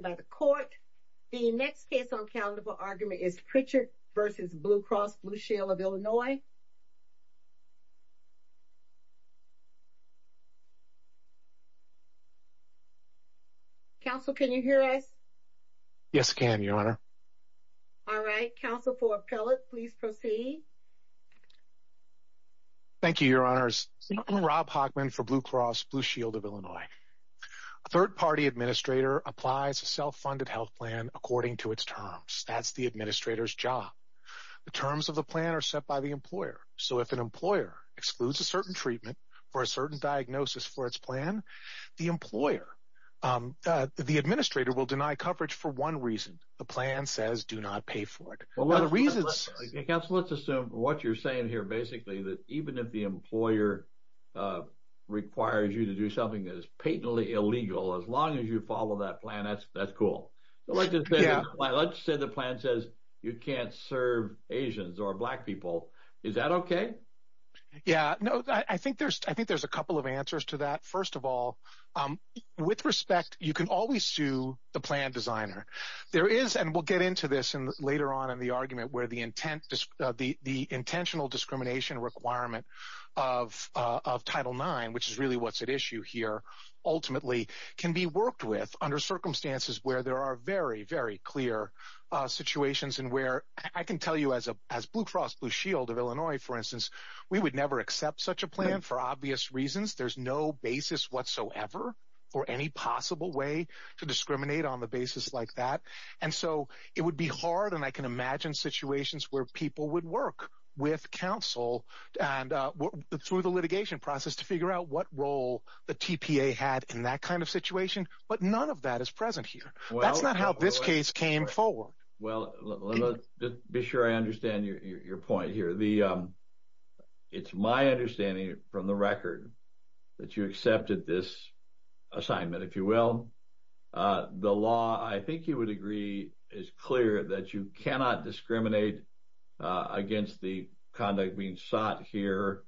by the court. The next case on calendar for argument is Pritchard v. Blue Cross Blue Shield of Illinois. Counsel, can you hear us? Yes, I can, Your Honor. All right, counsel for appellate, please proceed. Thank you, Your Honors. I'm Rob Hogman for Blue Cross Blue Shield of Illinois. A third-party administrator applies a self-funded health plan according to its terms. That's the administrator's job. The terms of the plan are set by the employer. So, if an employer excludes a certain treatment for a certain diagnosis for its plan, the administrator will deny coverage for one reason. The plan says do not pay for it. What are the reasons? Counsel, let's assume what you're basically saying is that even if the employer requires you to do something that is patently illegal, as long as you follow that plan, that's cool. Let's say the plan says you can't serve Asians or black people. Is that okay? Yeah, I think there's a couple of answers to that. First of all, with respect, you can always sue the plan designer. There is, and we'll get into this later on in the argument, where the intentional discrimination requirement of Title IX, which is really what's at issue here, ultimately can be worked with under circumstances where there are very, very clear situations and where I can tell you as Blue Cross Blue Shield of Illinois, for instance, we would never accept such a plan for obvious reasons. There's no basis whatsoever for any possible way to discriminate on the basis like that, and so it would be hard, and I can imagine situations where people would work with counsel and through the litigation process to figure out what role the TPA had in that kind of situation, but none of that is present here. That's not how this case came forward. Well, be sure I understand your point here. It's my understanding from the record that you accepted this assignment, if you will. The law, I think you would agree, is clear that you cannot discriminate against the conduct being sought here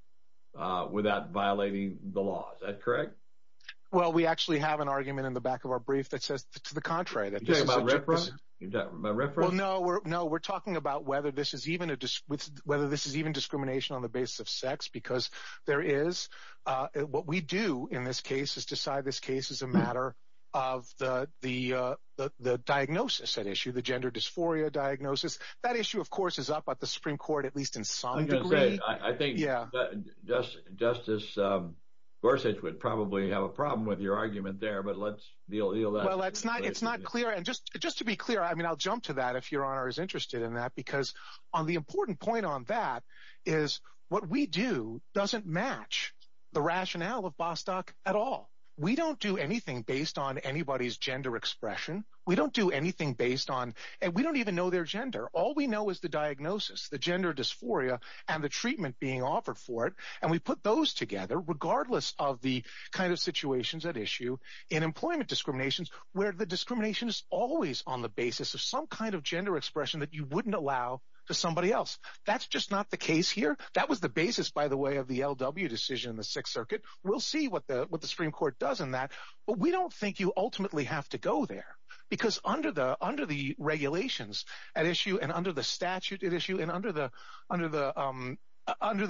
without violating the law. Is that correct? Well, we actually have an argument in the back of our brief that says to the contrary. You're talking about reference? No, we're talking about whether this is even discrimination on the basis of sex, because what we do in this case is decide this case is a matter of the diagnosis at issue, the gender dysphoria diagnosis. That issue, of course, is up at the Supreme Court, at least in some degree. I think Justice Gorsuch would probably have a problem with your argument there, but let's deal with that. Well, it's not clear, just to be clear. I mean, I'll jump to that if your honor is interested in that, because on the important point on that is what we do doesn't match the rationale of Bostock at all. We don't do anything based on anybody's gender expression. We don't do anything based on and we don't even know their gender. All we know is the diagnosis, the gender dysphoria and the treatment being offered for it. And we put those together regardless of the kind of situations at issue in employment discriminations, where the discrimination is always on the basis of some kind of gender expression that you wouldn't allow to somebody else. That's just not the case here. That was the basis, by the way, of the L.W. decision in the Sixth Circuit. We'll see what the Supreme Court does in that, but we don't think you ultimately have to go there, because under the regulations at issue and under the statute at issue and under the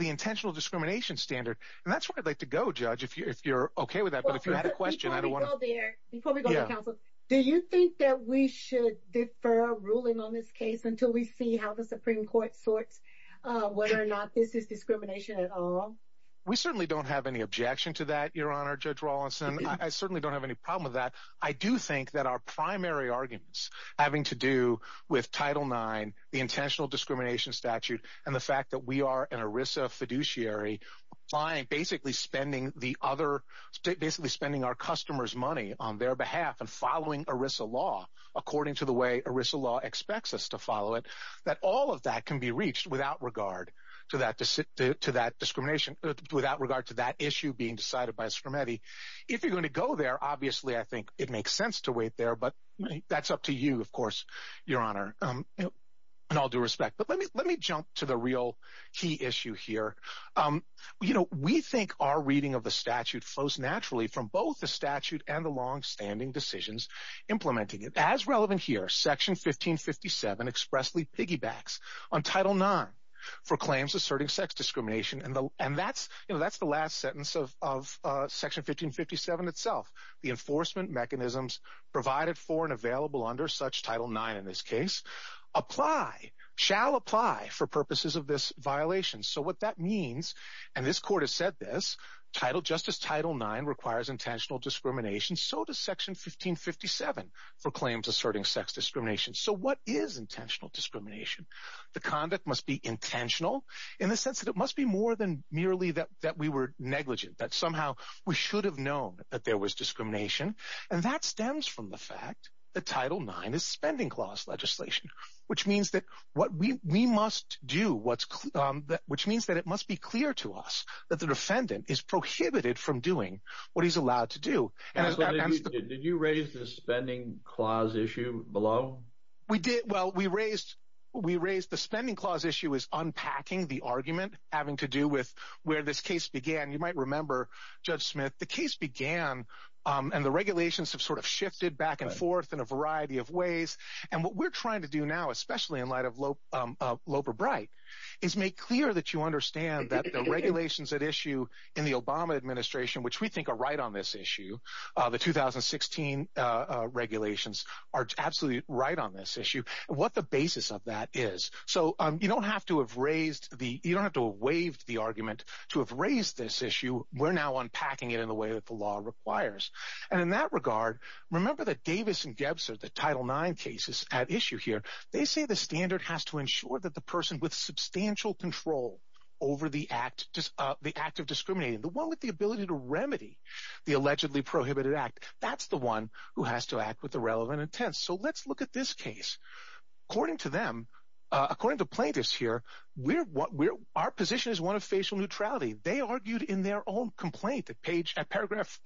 intentional discrimination standard. And that's where I'd like to go, Judge, if you're OK with that. But if you had a question, do you think that we should defer ruling on this case until we see how the Supreme Court sorts whether or not this is discrimination at all? We certainly don't have any objection to that, Your Honor, Judge Rawlinson. I certainly don't have any problem with that. I do think that our primary arguments having to do with Title IX, the intentional discrimination statute and the fact that we are an ERISA fiduciary basically spending our customers' money on their behalf and following ERISA law according to the way ERISA law expects us to follow it, that all of that can be reached without regard to that discrimination, without regard to that issue being decided by SCRMETI. If you're going to go there, obviously, I think it makes sense to wait there, but that's up to you, of course, Your Honor, in all due respect. But let me jump to the real key issue here. You know, we think our reading of the statute flows naturally from both the statute and the longstanding decisions implementing it. As relevant here, Section 1557 expressly piggybacks on Title IX for claims asserting sex discrimination. And that's the last sentence of Section 1557 itself. The enforcement mechanisms provided for and available under such Title IX in this case apply, shall apply, for purposes of this violation. So what that means, and this Court has said this, Title IX requires intentional discrimination. So does Section 1557 for claims asserting sex discrimination. So what is intentional discrimination? The conduct must be intentional in the sense that it must be more than merely that we were negligent, that somehow we should have known that there was discrimination. And that stems from the fact that Title IX is spending clause legislation, which means that what we must do, which means that it must be clear to us that the defendant is prohibited from doing what he's allowed to do. And that's what they did. Did you raise the spending clause issue below? We did. Well, we raised, we raised the spending clause issue is unpacking the argument having to do with where this case began. You might remember, Judge Smith, the case began and the regulations have sort of shifted back and forth in a variety of ways. And what we're trying to do now, especially in light of Loper Bright, is make clear that you understand that the regulations at issue in the Obama administration, which we think are right on this issue, the 2016 regulations are absolutely right on this issue and what the basis of that is. So you don't have to have raised the, you don't have to have waived the argument to have raised this issue. We're now unpacking it in the way that the law requires. And in that regard, remember that Davis and Gebser, the Title IX cases at issue here, they say the standard has to ensure that the person with substantial control over the act, the act of discriminating, the one with the ability to remedy the allegedly irrelevant intent. So let's look at this case. According to them, according to plaintiffs here, we're, our position is one of facial neutrality. They argued in their own complaint at page, at paragraph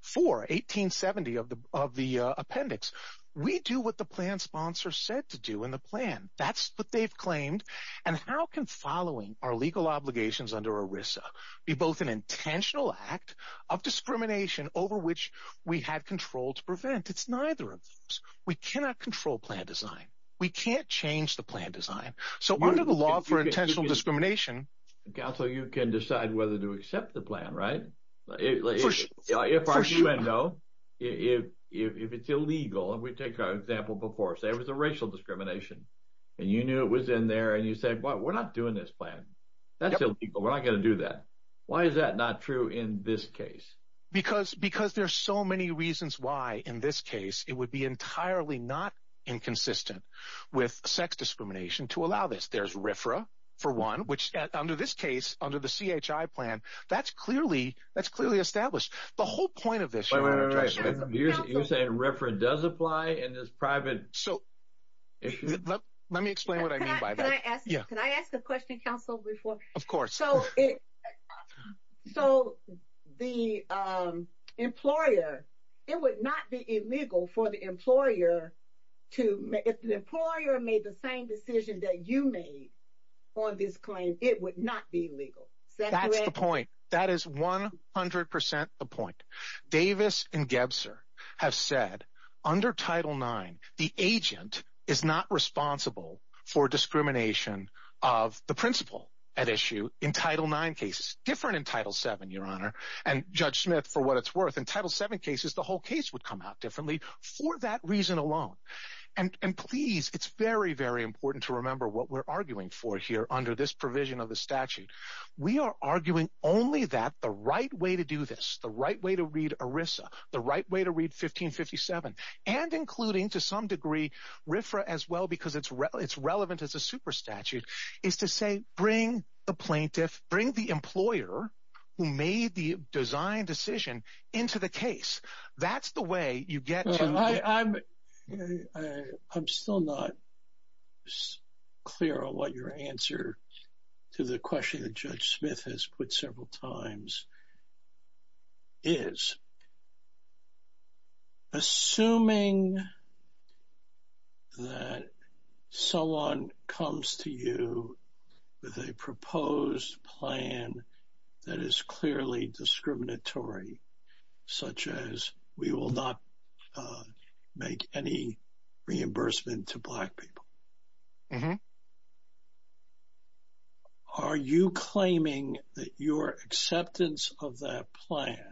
four, 1870 of the appendix. We do what the plan sponsor said to do in the plan. That's what they've claimed. And how can following our legal obligations under ERISA be both an intentional act of discrimination over which we had control to prevent? It's neither of those. We cannot control plan design. We can't change the plan design. So under the law for intentional discrimination, counsel, you can decide whether to accept the plan, right? If it's illegal, and we take our example before, say it was a racial discrimination and you knew it was in there and you say, well, we're not doing this plan. That's illegal. We're not going to do that. Why is that not true in this case? Because, because there's so many reasons why in this case, it would be entirely not inconsistent with sex discrimination to allow this. There's RFRA, for one, which under this case, under the CHI plan, that's clearly, that's clearly established. The whole point of this. You're saying RFRA does apply and is private. So let me explain what I Of course. So the employer, it would not be illegal for the employer to, if the employer made the same decision that you made on this claim, it would not be illegal. That's the point. That is 100% the point. Davis and Gebser have said under Title IX, the agent is not responsible for discrimination of the principal at issue in Title IX cases, different in Title VII, Your Honor, and Judge Smith for what it's worth. In Title VII cases, the whole case would come out differently for that reason alone. And please, it's very, very important to remember what we're arguing for here under this provision of the statute. We are arguing only that the right way to do this, the right way to read ERISA, the right way to read 1557, and including to some degree, RFRA as well, because it's relevant as a super statute, is to say, bring the plaintiff, bring the employer who made the design decision into the case. That's the way you get to... I'm still not clear on what your answer to the question that Judge Smith has put several times is. Assuming that someone comes to you with a proposed plan that is clearly discriminatory, such as we will not make any reimbursement to black people, are you claiming that your acceptance of that plan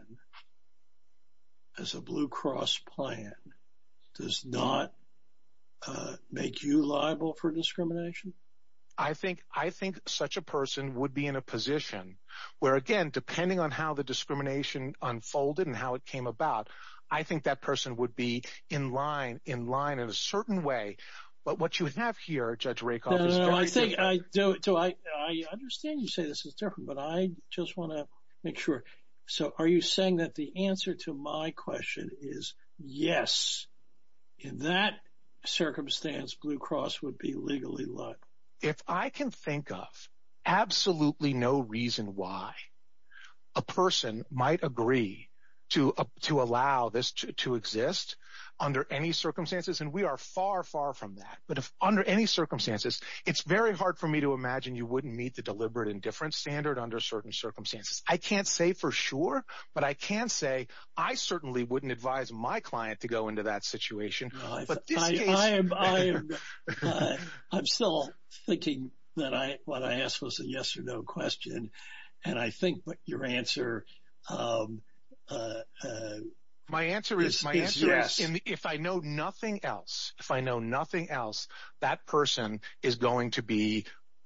as a Blue Cross plan does not make you liable for discrimination? I think such a person would be in a position where, again, depending on how the discrimination unfolded and how it came about, I think that person would be in line in a certain way. But what you have here, Judge Rakoff... No, no, no. I understand you say this is different, but I just want to make sure. Are you saying that the answer to my question is yes, in that circumstance, Blue Cross would be legally liable? If I can think of absolutely no reason why a person might agree to allow this to exist under any circumstances, and we are far, far from that, but if under any circumstances, it's very hard for me to imagine you wouldn't meet the deliberate indifference standard under certain circumstances. I can't say for sure, but I can say I certainly wouldn't advise my client to go into that situation. But this case... I'm still thinking that what I asked was a yes or no question, and I think that your answer... My answer is yes, if I know nothing else, that person is going to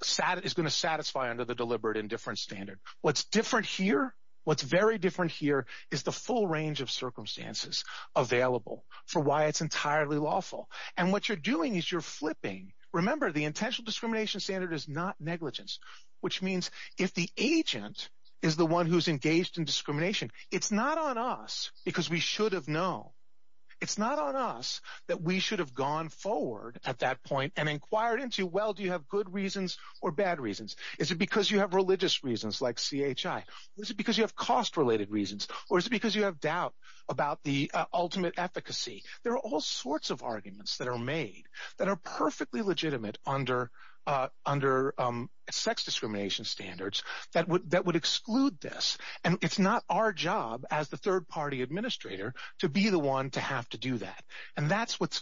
satisfy under the deliberate indifference standard. What's different here, what's very different here is the full range of circumstances available for why it's entirely lawful. And what you're doing is you're flipping. Remember, the intentional discrimination standard is not negligence, which means if the agent is the one who's engaged in discrimination, it's not on us because we should have known. It's not on us that we should have gone forward at that point and inquired into, well, do you have good reasons or bad reasons? Is it because you have religious reasons like CHI? Is it because you have cost-related reasons? Or is it because you have doubt about the ultimate efficacy? There are all sorts of arguments that are made that are perfectly legitimate under sex discrimination standards that would exclude this, and it's not our job as the third-party administrator to be the one to have to do that. And that's what's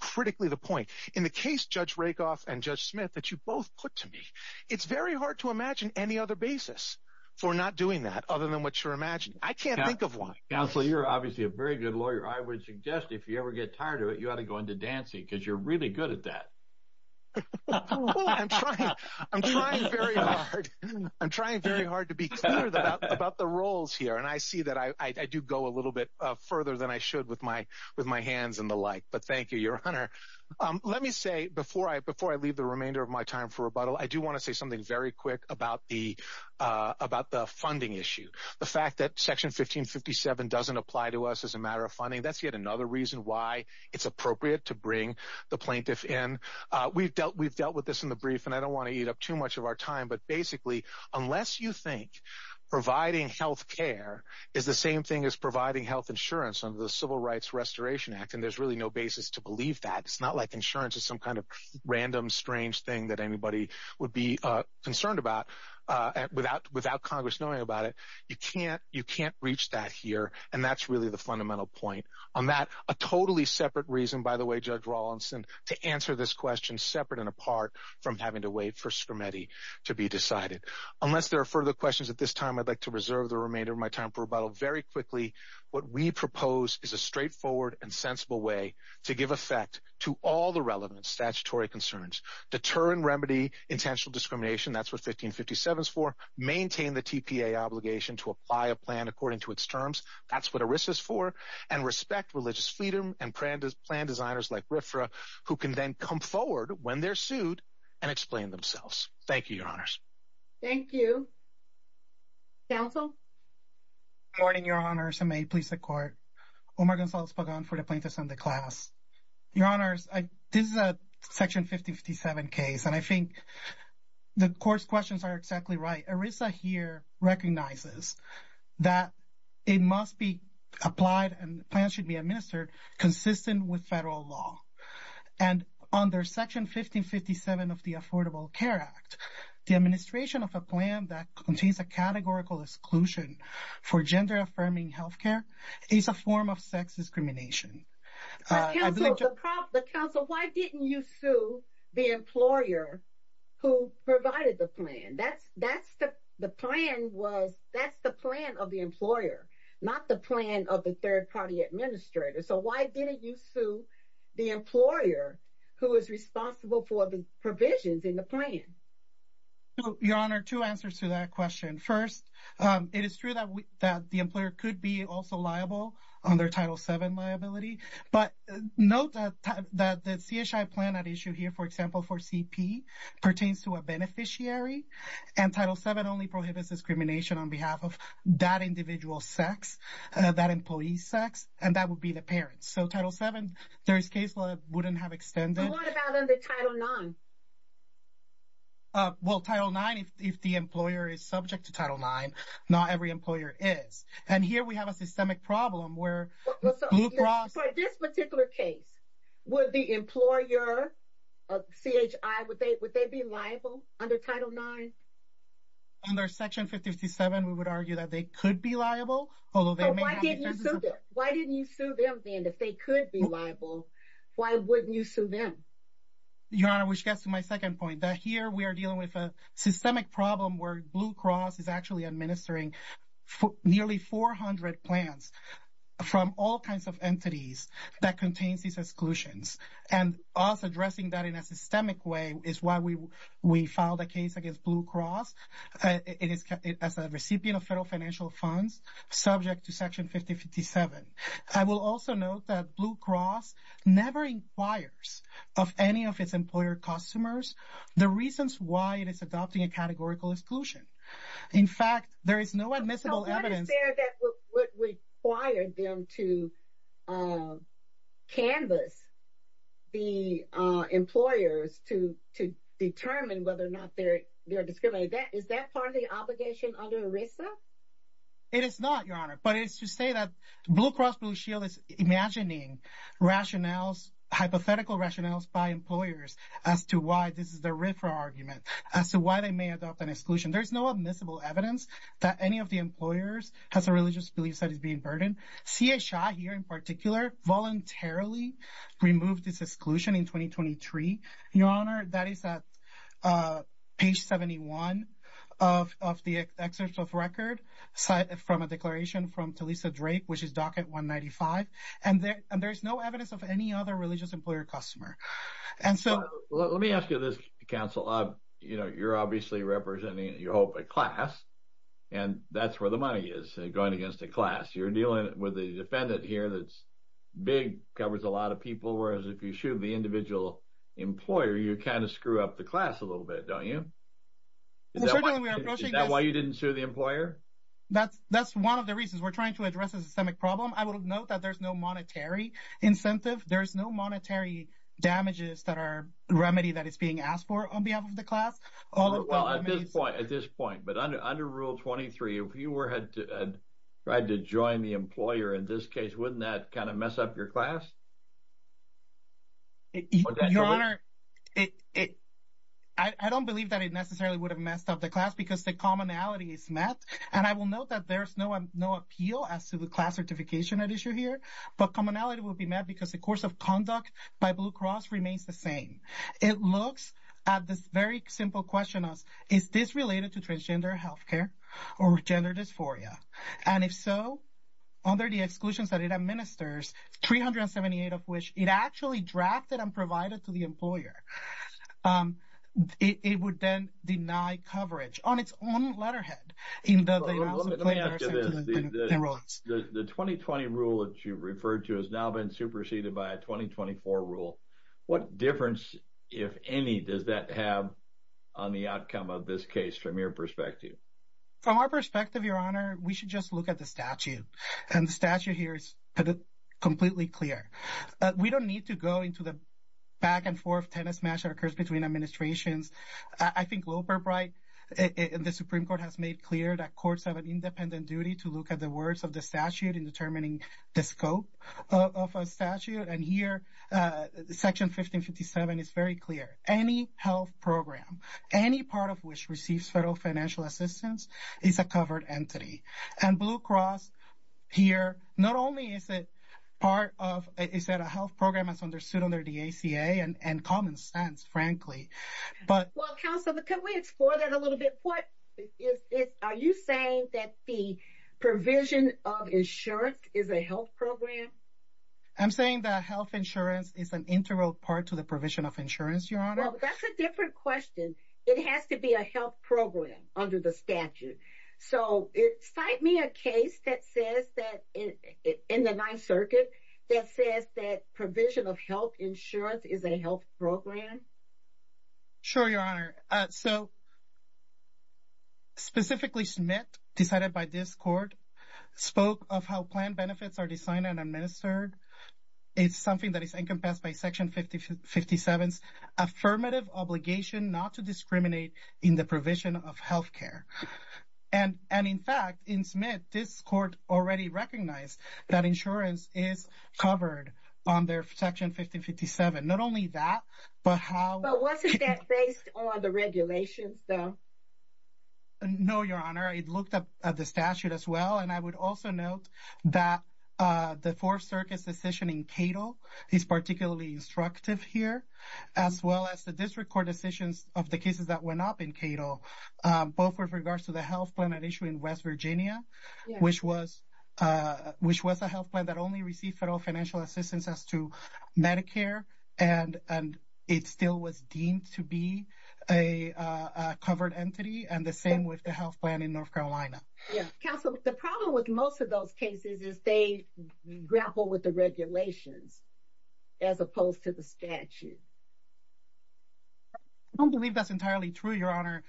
critically the point. In the case, Judge Rakoff and Judge Smith, that you both put to me, it's very hard to imagine any other basis for not doing that other than what you're imagining. I can't think of one. Counsel, you're obviously a very good lawyer. I would suggest if you ever get tired of it, you ought to go into dancing because you're really good at that. I'm trying very hard to be clear about the roles here, and I see that I do go a little bit further than I should with my hands and the like, but thank you, Your Honor. Let me say, before I leave the remainder of my time for rebuttal, I do want to say something very quick about the funding issue. The fact that Section 1557 doesn't apply to us as a matter of funding, that's yet another reason why it's appropriate to bring the plaintiff in. We've dealt with this in the brief, and I don't want to eat up too much of our time, but basically, unless you think providing health care is the same thing as providing health insurance under the Civil Rights Restoration Act, and there's really no basis to believe that, it's not like insurance is some kind of random, strange thing that anybody would be concerned about without Congress knowing about it. You can't reach that here, and that's really the fundamental point on that. A totally separate reason, by the way, Judge Rawlinson, to answer this question separate and apart from having to wait for Scrimeti to be decided. Unless there are further questions at this time, I'd like to reserve the remainder of my time for rebuttal. Very quickly, what we propose is a straightforward and sensible way to give effect to all the relevant statutory concerns. Deter and remedy intentional discrimination. That's what 1557 is for. Maintain the TPA obligation to apply a plan according to its terms. That's what ERISA is for. And respect religious freedom and plan designers like RFRA, who can then come forward when they're sued and explain themselves. Thank you, Your Honors. Thank you. Counsel? Good morning, Your Honors, and may it please the Court. Omar Gonzalez-Pagan for the Plaintiff's Sunday Class. Your Honors, this is a Section 57 case, and I think the Court's questions are exactly right. ERISA here recognizes that it must be applied and plans should be administered consistent with federal law. And under Section 1557 of the Affordable Care Act, the administration of a plan that contains a categorical exclusion for gender-affirming health care is a form of sex discrimination. Counsel, why didn't you sue the employer who provided the plan? That's the plan of the employer, not the plan of the third-party administrator. So, why didn't you sue the employer who is responsible for the provisions in the plan? Your Honor, two answers to that question. First, it is true that the employer could be also liable under Title VII liability, but note that the CSI plan at issue here, for example, for CP, pertains to a beneficiary, and Title VII only prohibits discrimination on behalf of that individual's sex, that employee's sex, and that would be the parents. So, Title VII, there is case law that wouldn't have extended. But what about under Title IX? Well, Title IX, if the employer is subject to Title IX, not every employer is. And here we have a systemic problem where Blue Cross... For this particular case, would the employer, CHI, would they be liable under Title IX? Under Section 557, we would argue that they could be liable, although they may have defenses... So, why didn't you sue them then? If they could be liable, why wouldn't you sue them? Your Honor, which gets to my second point, that here we are dealing with a systemic problem where Blue Cross is actually administering nearly 400 plans from all kinds of entities that contains these exclusions. And us addressing that in a systemic way is why we filed a case against Blue Cross as a recipient of federal financial funds subject to Section 5057. I will also note that Blue Cross never inquires of any of its employees. So, what is there that would require them to canvas the employers to determine whether or not they're discriminated? Is that part of the obligation under ERISA? It is not, Your Honor. But it is to say that Blue Cross Blue Shield is imagining rationales, hypothetical rationales by employers as to why this is the RIFRA argument, as to why they may adopt an exclusion. There's no admissible evidence that any of the employers has a religious belief that is being burdened. C.H.I. here in particular voluntarily removed this exclusion in 2023. Your Honor, that is at page 71 of the excerpt of record from a declaration from Talisa Drake, which is docket 195. And there's no evidence of any other religious employer customer. And so, let me ask you this, Counsel. You know, you're obviously representing, you hope, a class. And that's where the money is, going against a class. You're dealing with a defendant here that's big, covers a lot of people, whereas if you shoot the individual employer, you kind of screw up the class a little bit, don't you? Is that why you didn't sue the employer? That's one of the reasons. We're trying to address a systemic problem. I will note that there's no monetary incentive. There's no monetary damages that are a remedy that is being asked for on behalf of the class. Well, at this point, but under Rule 23, if you had to join the employer in this case, wouldn't that kind of mess up your class? Your Honor, I don't believe that it necessarily would have messed up the class because the commonality is met. And I will note that there's no appeal as to the class certification at issue here. But commonality will be met because the course of by Blue Cross remains the same. It looks at this very simple question of, is this related to transgender health care or gender dysphoria? And if so, under the exclusions that it administers, 378 of which it actually drafted and provided to the employer, it would then deny coverage on its own letterhead. Let me ask you this. The 2020 rule that you referred to has now been superseded by a 2024 rule. What difference, if any, does that have on the outcome of this case from your perspective? From our perspective, Your Honor, we should just look at the statute. And the statute here is completely clear. We don't need to go into the back and forth tennis match that occurs between administrations. I think Loper Bright in the Supreme Court has made clear that courts have an independent duty to look at the words of the statute in determining the scope of a statute. And here, Section 1557 is very clear. Any health program, any part of which receives federal financial assistance is a covered entity. And Blue Cross here, not only is it part of, is that a health program as understood under the ACA and common sense, frankly, but... Well, counsel, could we explore that a little bit? What is this? Are you saying that the provision of insurance is a health program? I'm saying that health insurance is an integral part to the provision of insurance, Your Honor. Well, that's a different question. It has to be a health program under the statute. So, cite me a case that says that, in the Ninth Circuit, that says that provision of health insurance is a health program. Sure, Your Honor. So, specifically, Smith, decided by this court, spoke of how plan benefits are designed and administered. It's something that is encompassed by Section 1557's affirmative obligation not to discriminate in the provision of health care. And, in fact, in Smith, this court already recognized that insurance is covered under Section 1557. Not only that, but how... But wasn't that based on the regulations, though? No, Your Honor. It looked at the statute as well. And I would also note that the Fourth Circuit's decision in Cato is particularly instructive here, as well as the district court decisions of the cases that went up in Cato, both with regards to the health plan at issue in West Virginia, which was a health plan that only received federal financial assistance as to Medicare, and it still was deemed to be a covered entity, and the same with the health plan in North Carolina. Counsel, the problem with most of those cases is they grapple with regulations as opposed to the statute. I don't believe that's entirely true, Your Honor.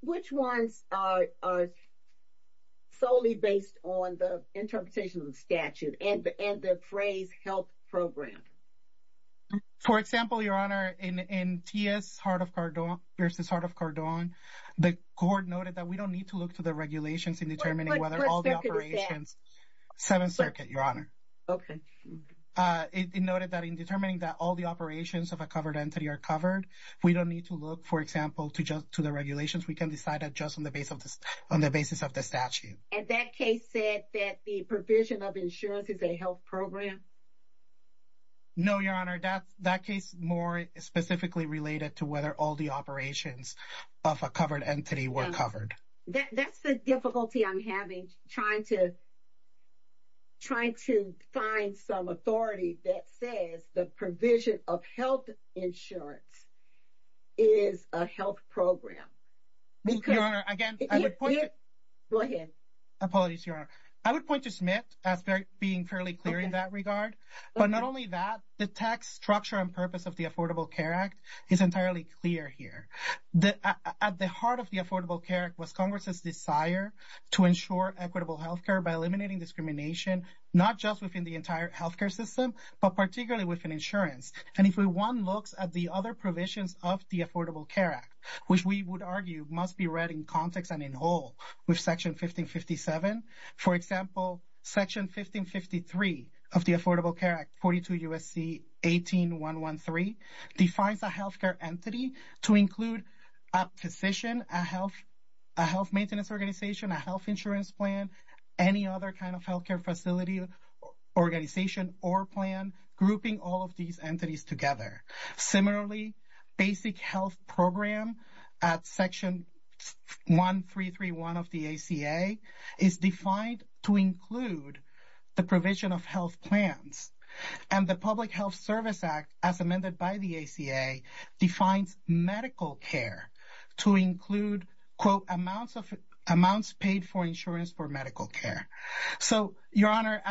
Which ones are solely based on the interpretation of the statute and the phrase health program? For example, Your Honor, in T.S. versus Heart of Cardone, the court noted that we don't need to look to the regulations in determining whether all the operations... What circuit is that? Seventh Circuit, Your Honor. Okay. It noted that in determining that all the operations of a covered entity are covered, we don't need to look, for example, to the regulations. We can decide that just on the basis of the statute. And that case said that the provision of insurance is a health program? No, Your Honor. That case more specifically related to whether all the operations of a covered entity were covered. That's the difficulty I'm having trying to find some authority that says the provision of health insurance is a health program because... Your Honor, again, I would point to... Go ahead. Apologies, Your Honor. I would point to Smith as being fairly clear in that regard. But not only that, the tax structure and purpose of the Affordable Care Act is entirely clear here. At the heart of the Affordable Care Act was Congress's desire to ensure equitable health care by eliminating discrimination, not just within the entire health care system, but particularly within insurance. And if one looks at the other provisions of the Affordable Care Act, which we would argue must be read in context and in whole with Section 1557, for example, Section 1553 of the Affordable Care Act, 42 U.S.C. 18113, defines a health care entity to include a physician, a health maintenance organization, a health insurance plan, any other kind of health care facility organization or plan grouping all of these entities together. Similarly, basic health program at Section 1331 of the ACA is defined to include the provision of health plans. And the Public Health Service Act, as amended by the ACA, defines medical care to include, quote, amounts paid for insurance for medical care. So, Your Honor,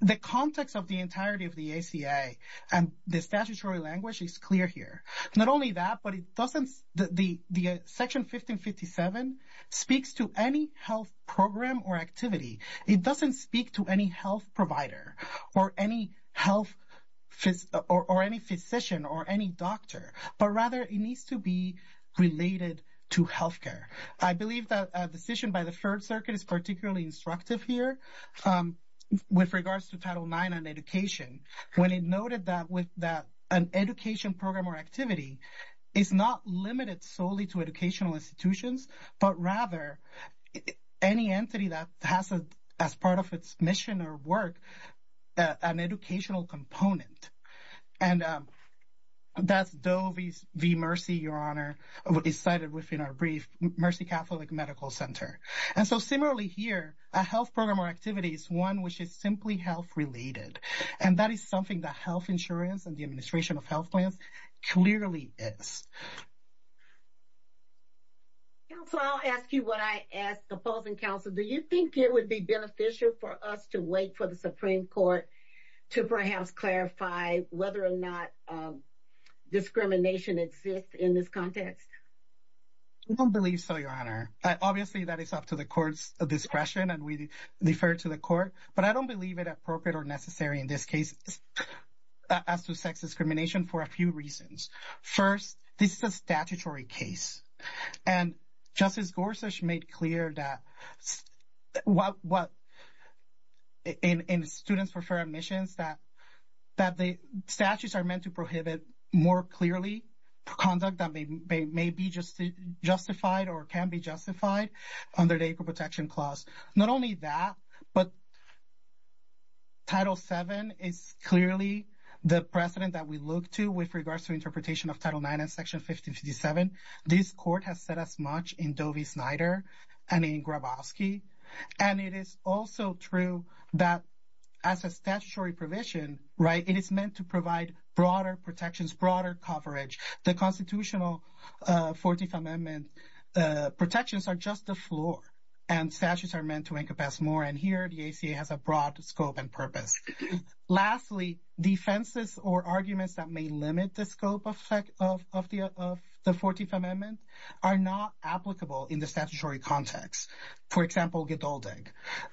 the context of the entirety of the ACA and the statutory language is clear here. Not only that, but it doesn't the Section 1557 speaks to any health program or activity. It doesn't speak to any health provider or any health or any physician or any doctor, but rather it needs to be related to health care. I believe that a decision by the Third Circuit is particularly instructive here with regards to Title IX on education, when it noted that an education program or activity is not limited solely to educational institutions, but rather any entity that has, as part of its mission or work, an educational component. And that's Doe v. Mercy, Your Honor, is cited within our brief, Mercy Catholic Medical Center. And so, similarly here, a health program or activity is one which is simply health-related. And that is something that health insurance and the administration of health plans clearly is. Counsel, I'll ask you what I ask opposing counsel. Do you think it would be beneficial for us to wait for the Supreme Court to perhaps clarify whether or not discrimination exists in this context? I don't believe so, Your Honor. Obviously, that is up to the court's discretion, and we refer to the court. But I don't believe it appropriate or necessary in this case as to sex discrimination for a few reasons. First, this is a statutory case. And Justice Gorsuch made clear that in Students for Fair Admissions that the statutes are meant to prohibit more clearly conduct that may be justified or can be justified under the Equal Protection Clause. Not only that, but Title VII is clearly the precedent that we look to with regards to interpretation of Title IX and Section 1557. This court has said as much in Doe v. Snyder and in Grabowski. And it is also true that as a statutory provision, right, it is meant to provide broader protections, broader coverage. The constitutional 14th Amendment protections are just the floor, and statutes are meant to encompass more. And here, the ACA has a broad scope and purpose. Lastly, defenses or arguments that may limit the scope of the 14th Amendment are not applicable in the statutory context. For example, geduldek.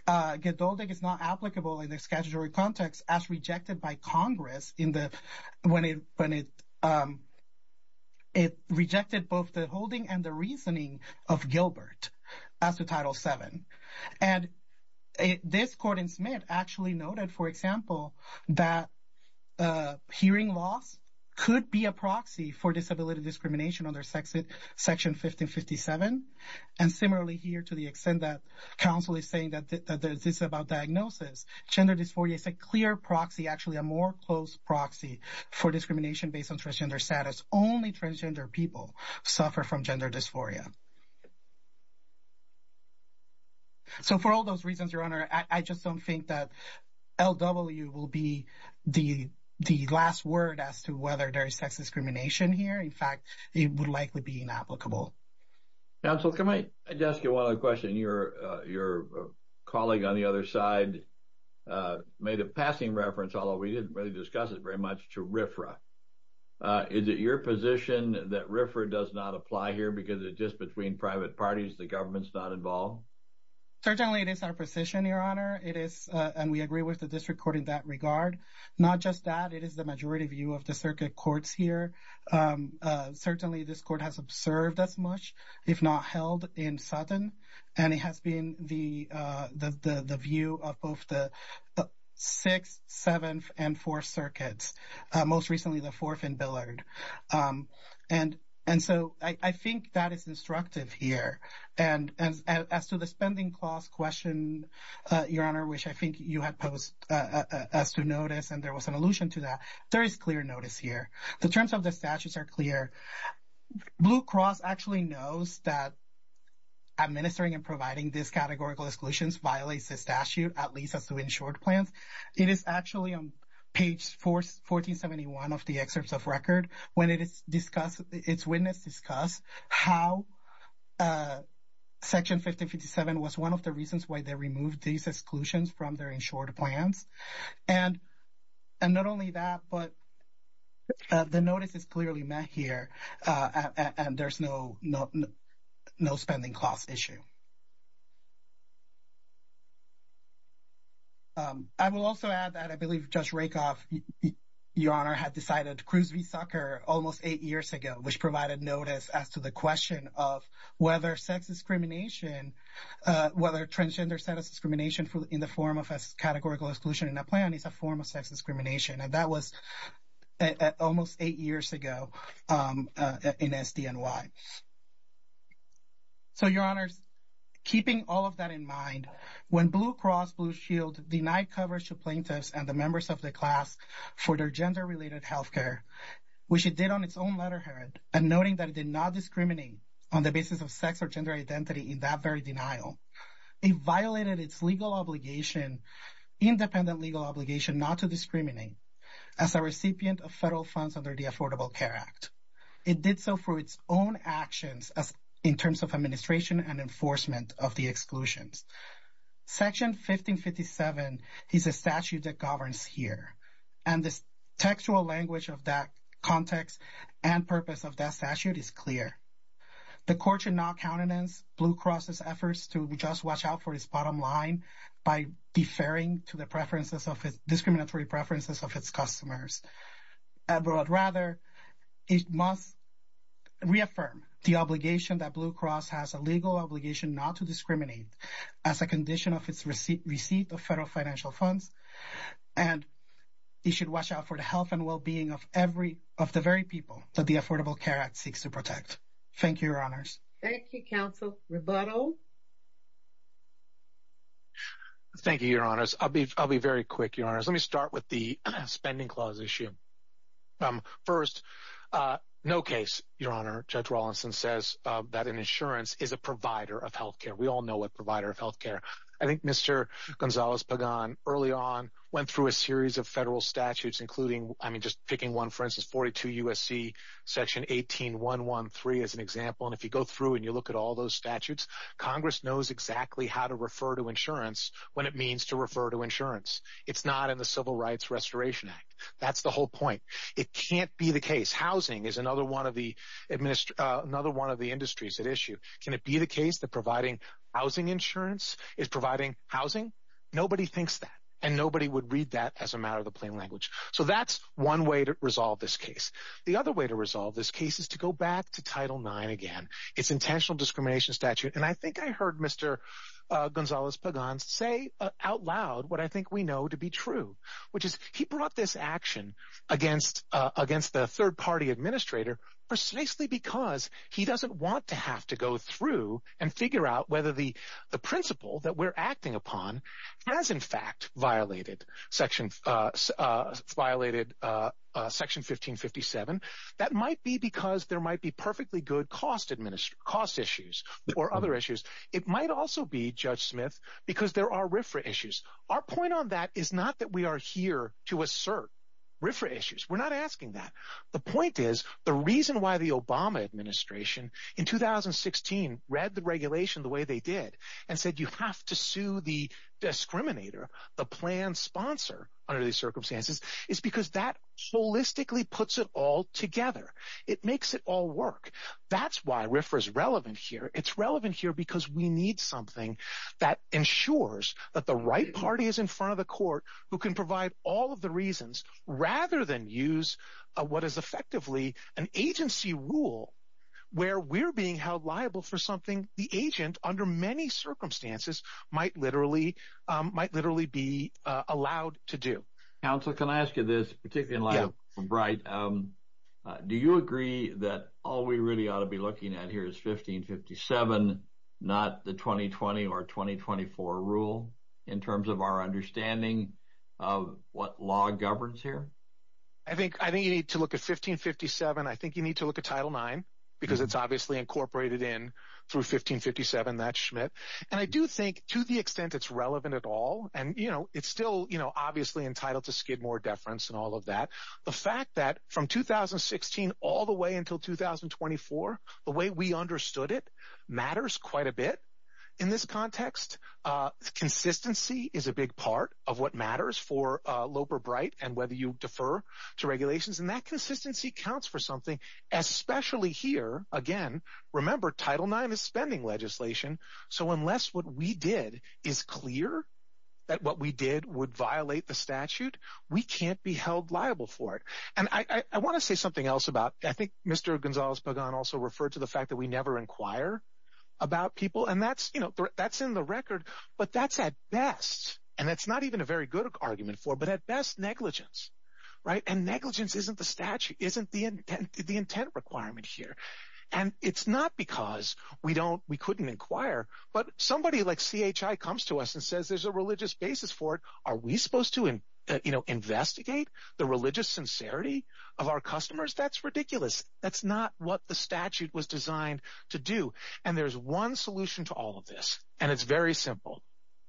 Geduldek is not applicable in statutory context as rejected by Congress when it rejected both the holding and the reasoning of Gilbert as to Title VII. And this court in Smith actually noted, for example, that hearing loss could be a proxy for disability discrimination under Section 1557. And it's a clear proxy, actually a more close proxy for discrimination based on transgender status. Only transgender people suffer from gender dysphoria. So for all those reasons, Your Honor, I just don't think that LW will be the last word as to whether there is sex discrimination here. In fact, it would likely be inapplicable. Counsel, can I just ask you one other question? Your colleague on the other side made a passing reference, although we didn't really discuss it very much, to RFRA. Is it your position that RFRA does not apply here because it's just between private parties, the government's not involved? Certainly, it is our position, Your Honor. It is, and we agree with the district court in that regard. Not just that, it is the majority view of the circuit courts here. Certainly, this court has observed as much, if not held in Sutton, and it has been the view of both the Sixth, Seventh, and Fourth Circuits, most recently the Fourth and Billard. And so I think that is instructive here. And as to the spending clause question, Your Honor, which I think you had posed as to notice, and there was an allusion to that, there is clear notice here. The terms of the statutes are clear. Blue Cross actually knows that administering and providing these categorical exclusions violates the statute, at least as to insured plans. It is actually on page 1471 of the excerpts of record when it is discussed, its witness discussed how Section 5057 was one of the reasons why they removed these exclusions from their insured plans. And not only that, but the notice is clearly met here, and there's no spending clause issue. I will also add that I believe Judge Rakoff, Your Honor, had decided Cruz v. Zucker almost eight years ago, which provided notice as to the question of whether transgender status discrimination in the form of a categorical exclusion in a plan is a form of sex discrimination, and that was almost eight years ago in SDNY. So, Your Honors, keeping all of that in mind, when Blue Cross Blue Shield denied coverage to plaintiffs and the members of the class for their gender-related healthcare, which it did on its own letterhead, and noting that it did not discriminate on the basis of sex or gender identity in that very denial, it violated its legal obligation, independent legal obligation not to discriminate as a recipient of federal funds under the Affordable Care Act. It did so for its own actions in terms of administration and enforcement of the exclusions. Section 1557 is a statute that governs here, and the textual language of that context and purpose of that statute is clear. The court should not countenance Blue Cross's efforts to just watch out for its bottom line by deferring to the discriminatory preferences of its customers. But rather, it must reaffirm the obligation that Blue Cross has a legal obligation not to discriminate as a condition of its receipt of federal financial funds, and it should watch out for the health and well-being of the very people that the Affordable Care Act seeks to protect. Thank you, Your Honors. Thank you, Counsel. Roberto? Thank you, Your Honors. I'll be very quick, Your Honors. Let me start with the Spending Clause issue. First, no case, Your Honor, Judge Rawlinson says that an insurance is a provider of health care. We all know what provider of health care. I think Mr. Gonzalez-Pagan early on went through a series of federal statutes, including, I mean, just picking one, for instance, 42 U.S.C. Section 18113 as an example, and if you go through and you look at all those statutes, Congress knows exactly how to refer to insurance when it means to refer to insurance. It's not in the Civil Rights Restoration Act. That's the whole point. It can't be the case. Housing is another one of the industries at issue. Can it be the case that providing housing insurance is providing housing? Nobody thinks that, and nobody would read that as a matter of the plain language. So that's one way to resolve this case. The other way to resolve this case is to go back to Title IX again, its intentional discrimination statute, and I think I heard Mr. Gonzalez-Pagan say out loud what I think we know to be true, which is he brought this action against the third-party administrator precisely because he doesn't want to have to go through and figure out whether the principle that we're acting upon has, in fact, violated Section 1557. That might be because there might be perfectly good cost issues or other issues. It might also be, Judge Smith, because there are RFRA issues. Our point on that is not that we are here to assert RFRA issues. We're not asking that. The point is the reason why the Obama administration in 2016 read the regulation the way they did and said you have to sue the discriminator, the plan sponsor, under these circumstances is because that holistically puts it all together. It makes it all work. That's why RFRA is relevant here. It's relevant here because we need something that ensures that the right party is in front of the court who can provide all of the reasons rather than use what is effectively an agency rule where we're being held liable for something the agent, under many circumstances, might literally be allowed to do. Counsel, can I ask you this, particularly in light of what's been bright? Do you agree that all we really ought to be looking at here is 1557, not the 2020 or 2024 rule in terms of our understanding of what law governs here? I think you need to look at 1557. I think you need to look at Title IX because it's obviously incorporated in through 1557, that's Schmidt. And I do think to the extent it's relevant at all, and it's still obviously entitled to skid more deference and all of that, the fact that from 2016 all the way until 2024, the way we understood it matters quite a bit in this context. Consistency is a big part of what matters for Loeb or Bright and whether you defer to regulations. And that consistency counts for something, especially here, again, remember Title IX is spending legislation. So unless what we did is clear that what we did would violate the statute, we can't be held liable for it. And I want to say something else about, I think Mr. Gonzalez-Pagan also referred to the fact that we never inquire about people. And that's in the record, but that's at best, and that's not even a very good argument for, but at best negligence, right? And negligence isn't the statute, isn't the intent requirement here. And it's not because we couldn't inquire, but somebody like CHI comes to us and says, there's a religious basis for it. Are we supposed to investigate the religious sincerity of our customers? That's ridiculous. That's not what the statute was designed to do. And there's one solution to all of this, and it's very simple.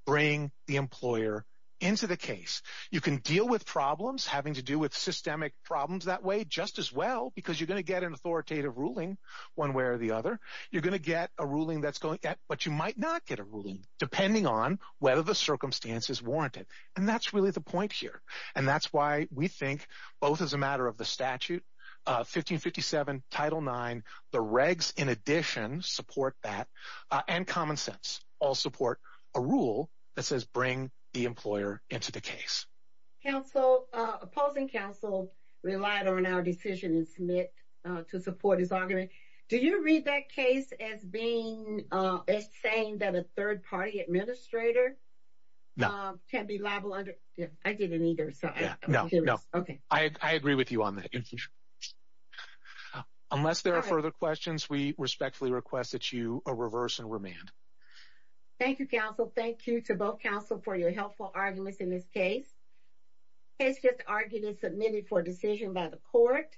Bring the employer into the case. You can deal with problems having to do with systemic problems that way just as well, because you're going to get an authoritative ruling one way or the other. You're going to get a ruling that's going, but you might not get a ruling depending on whether the circumstance is warranted. And that's really the point here. And that's why we think both as a matter of the statute, 1557 Title IX, the regs in addition support that, and common sense all support a rule that says bring the employer into the case. Counsel, opposing counsel relied on our decision in Smith to support his argument. Do you read that case as being, as saying that a third party administrator can be liable under? I didn't either, so I agree with you on that. Unless there are further questions, we respectfully request that you reverse and remand. Thank you, counsel. Thank you to both counsel for your helpful arguments in this case. It's just arguments submitted for decision by the court.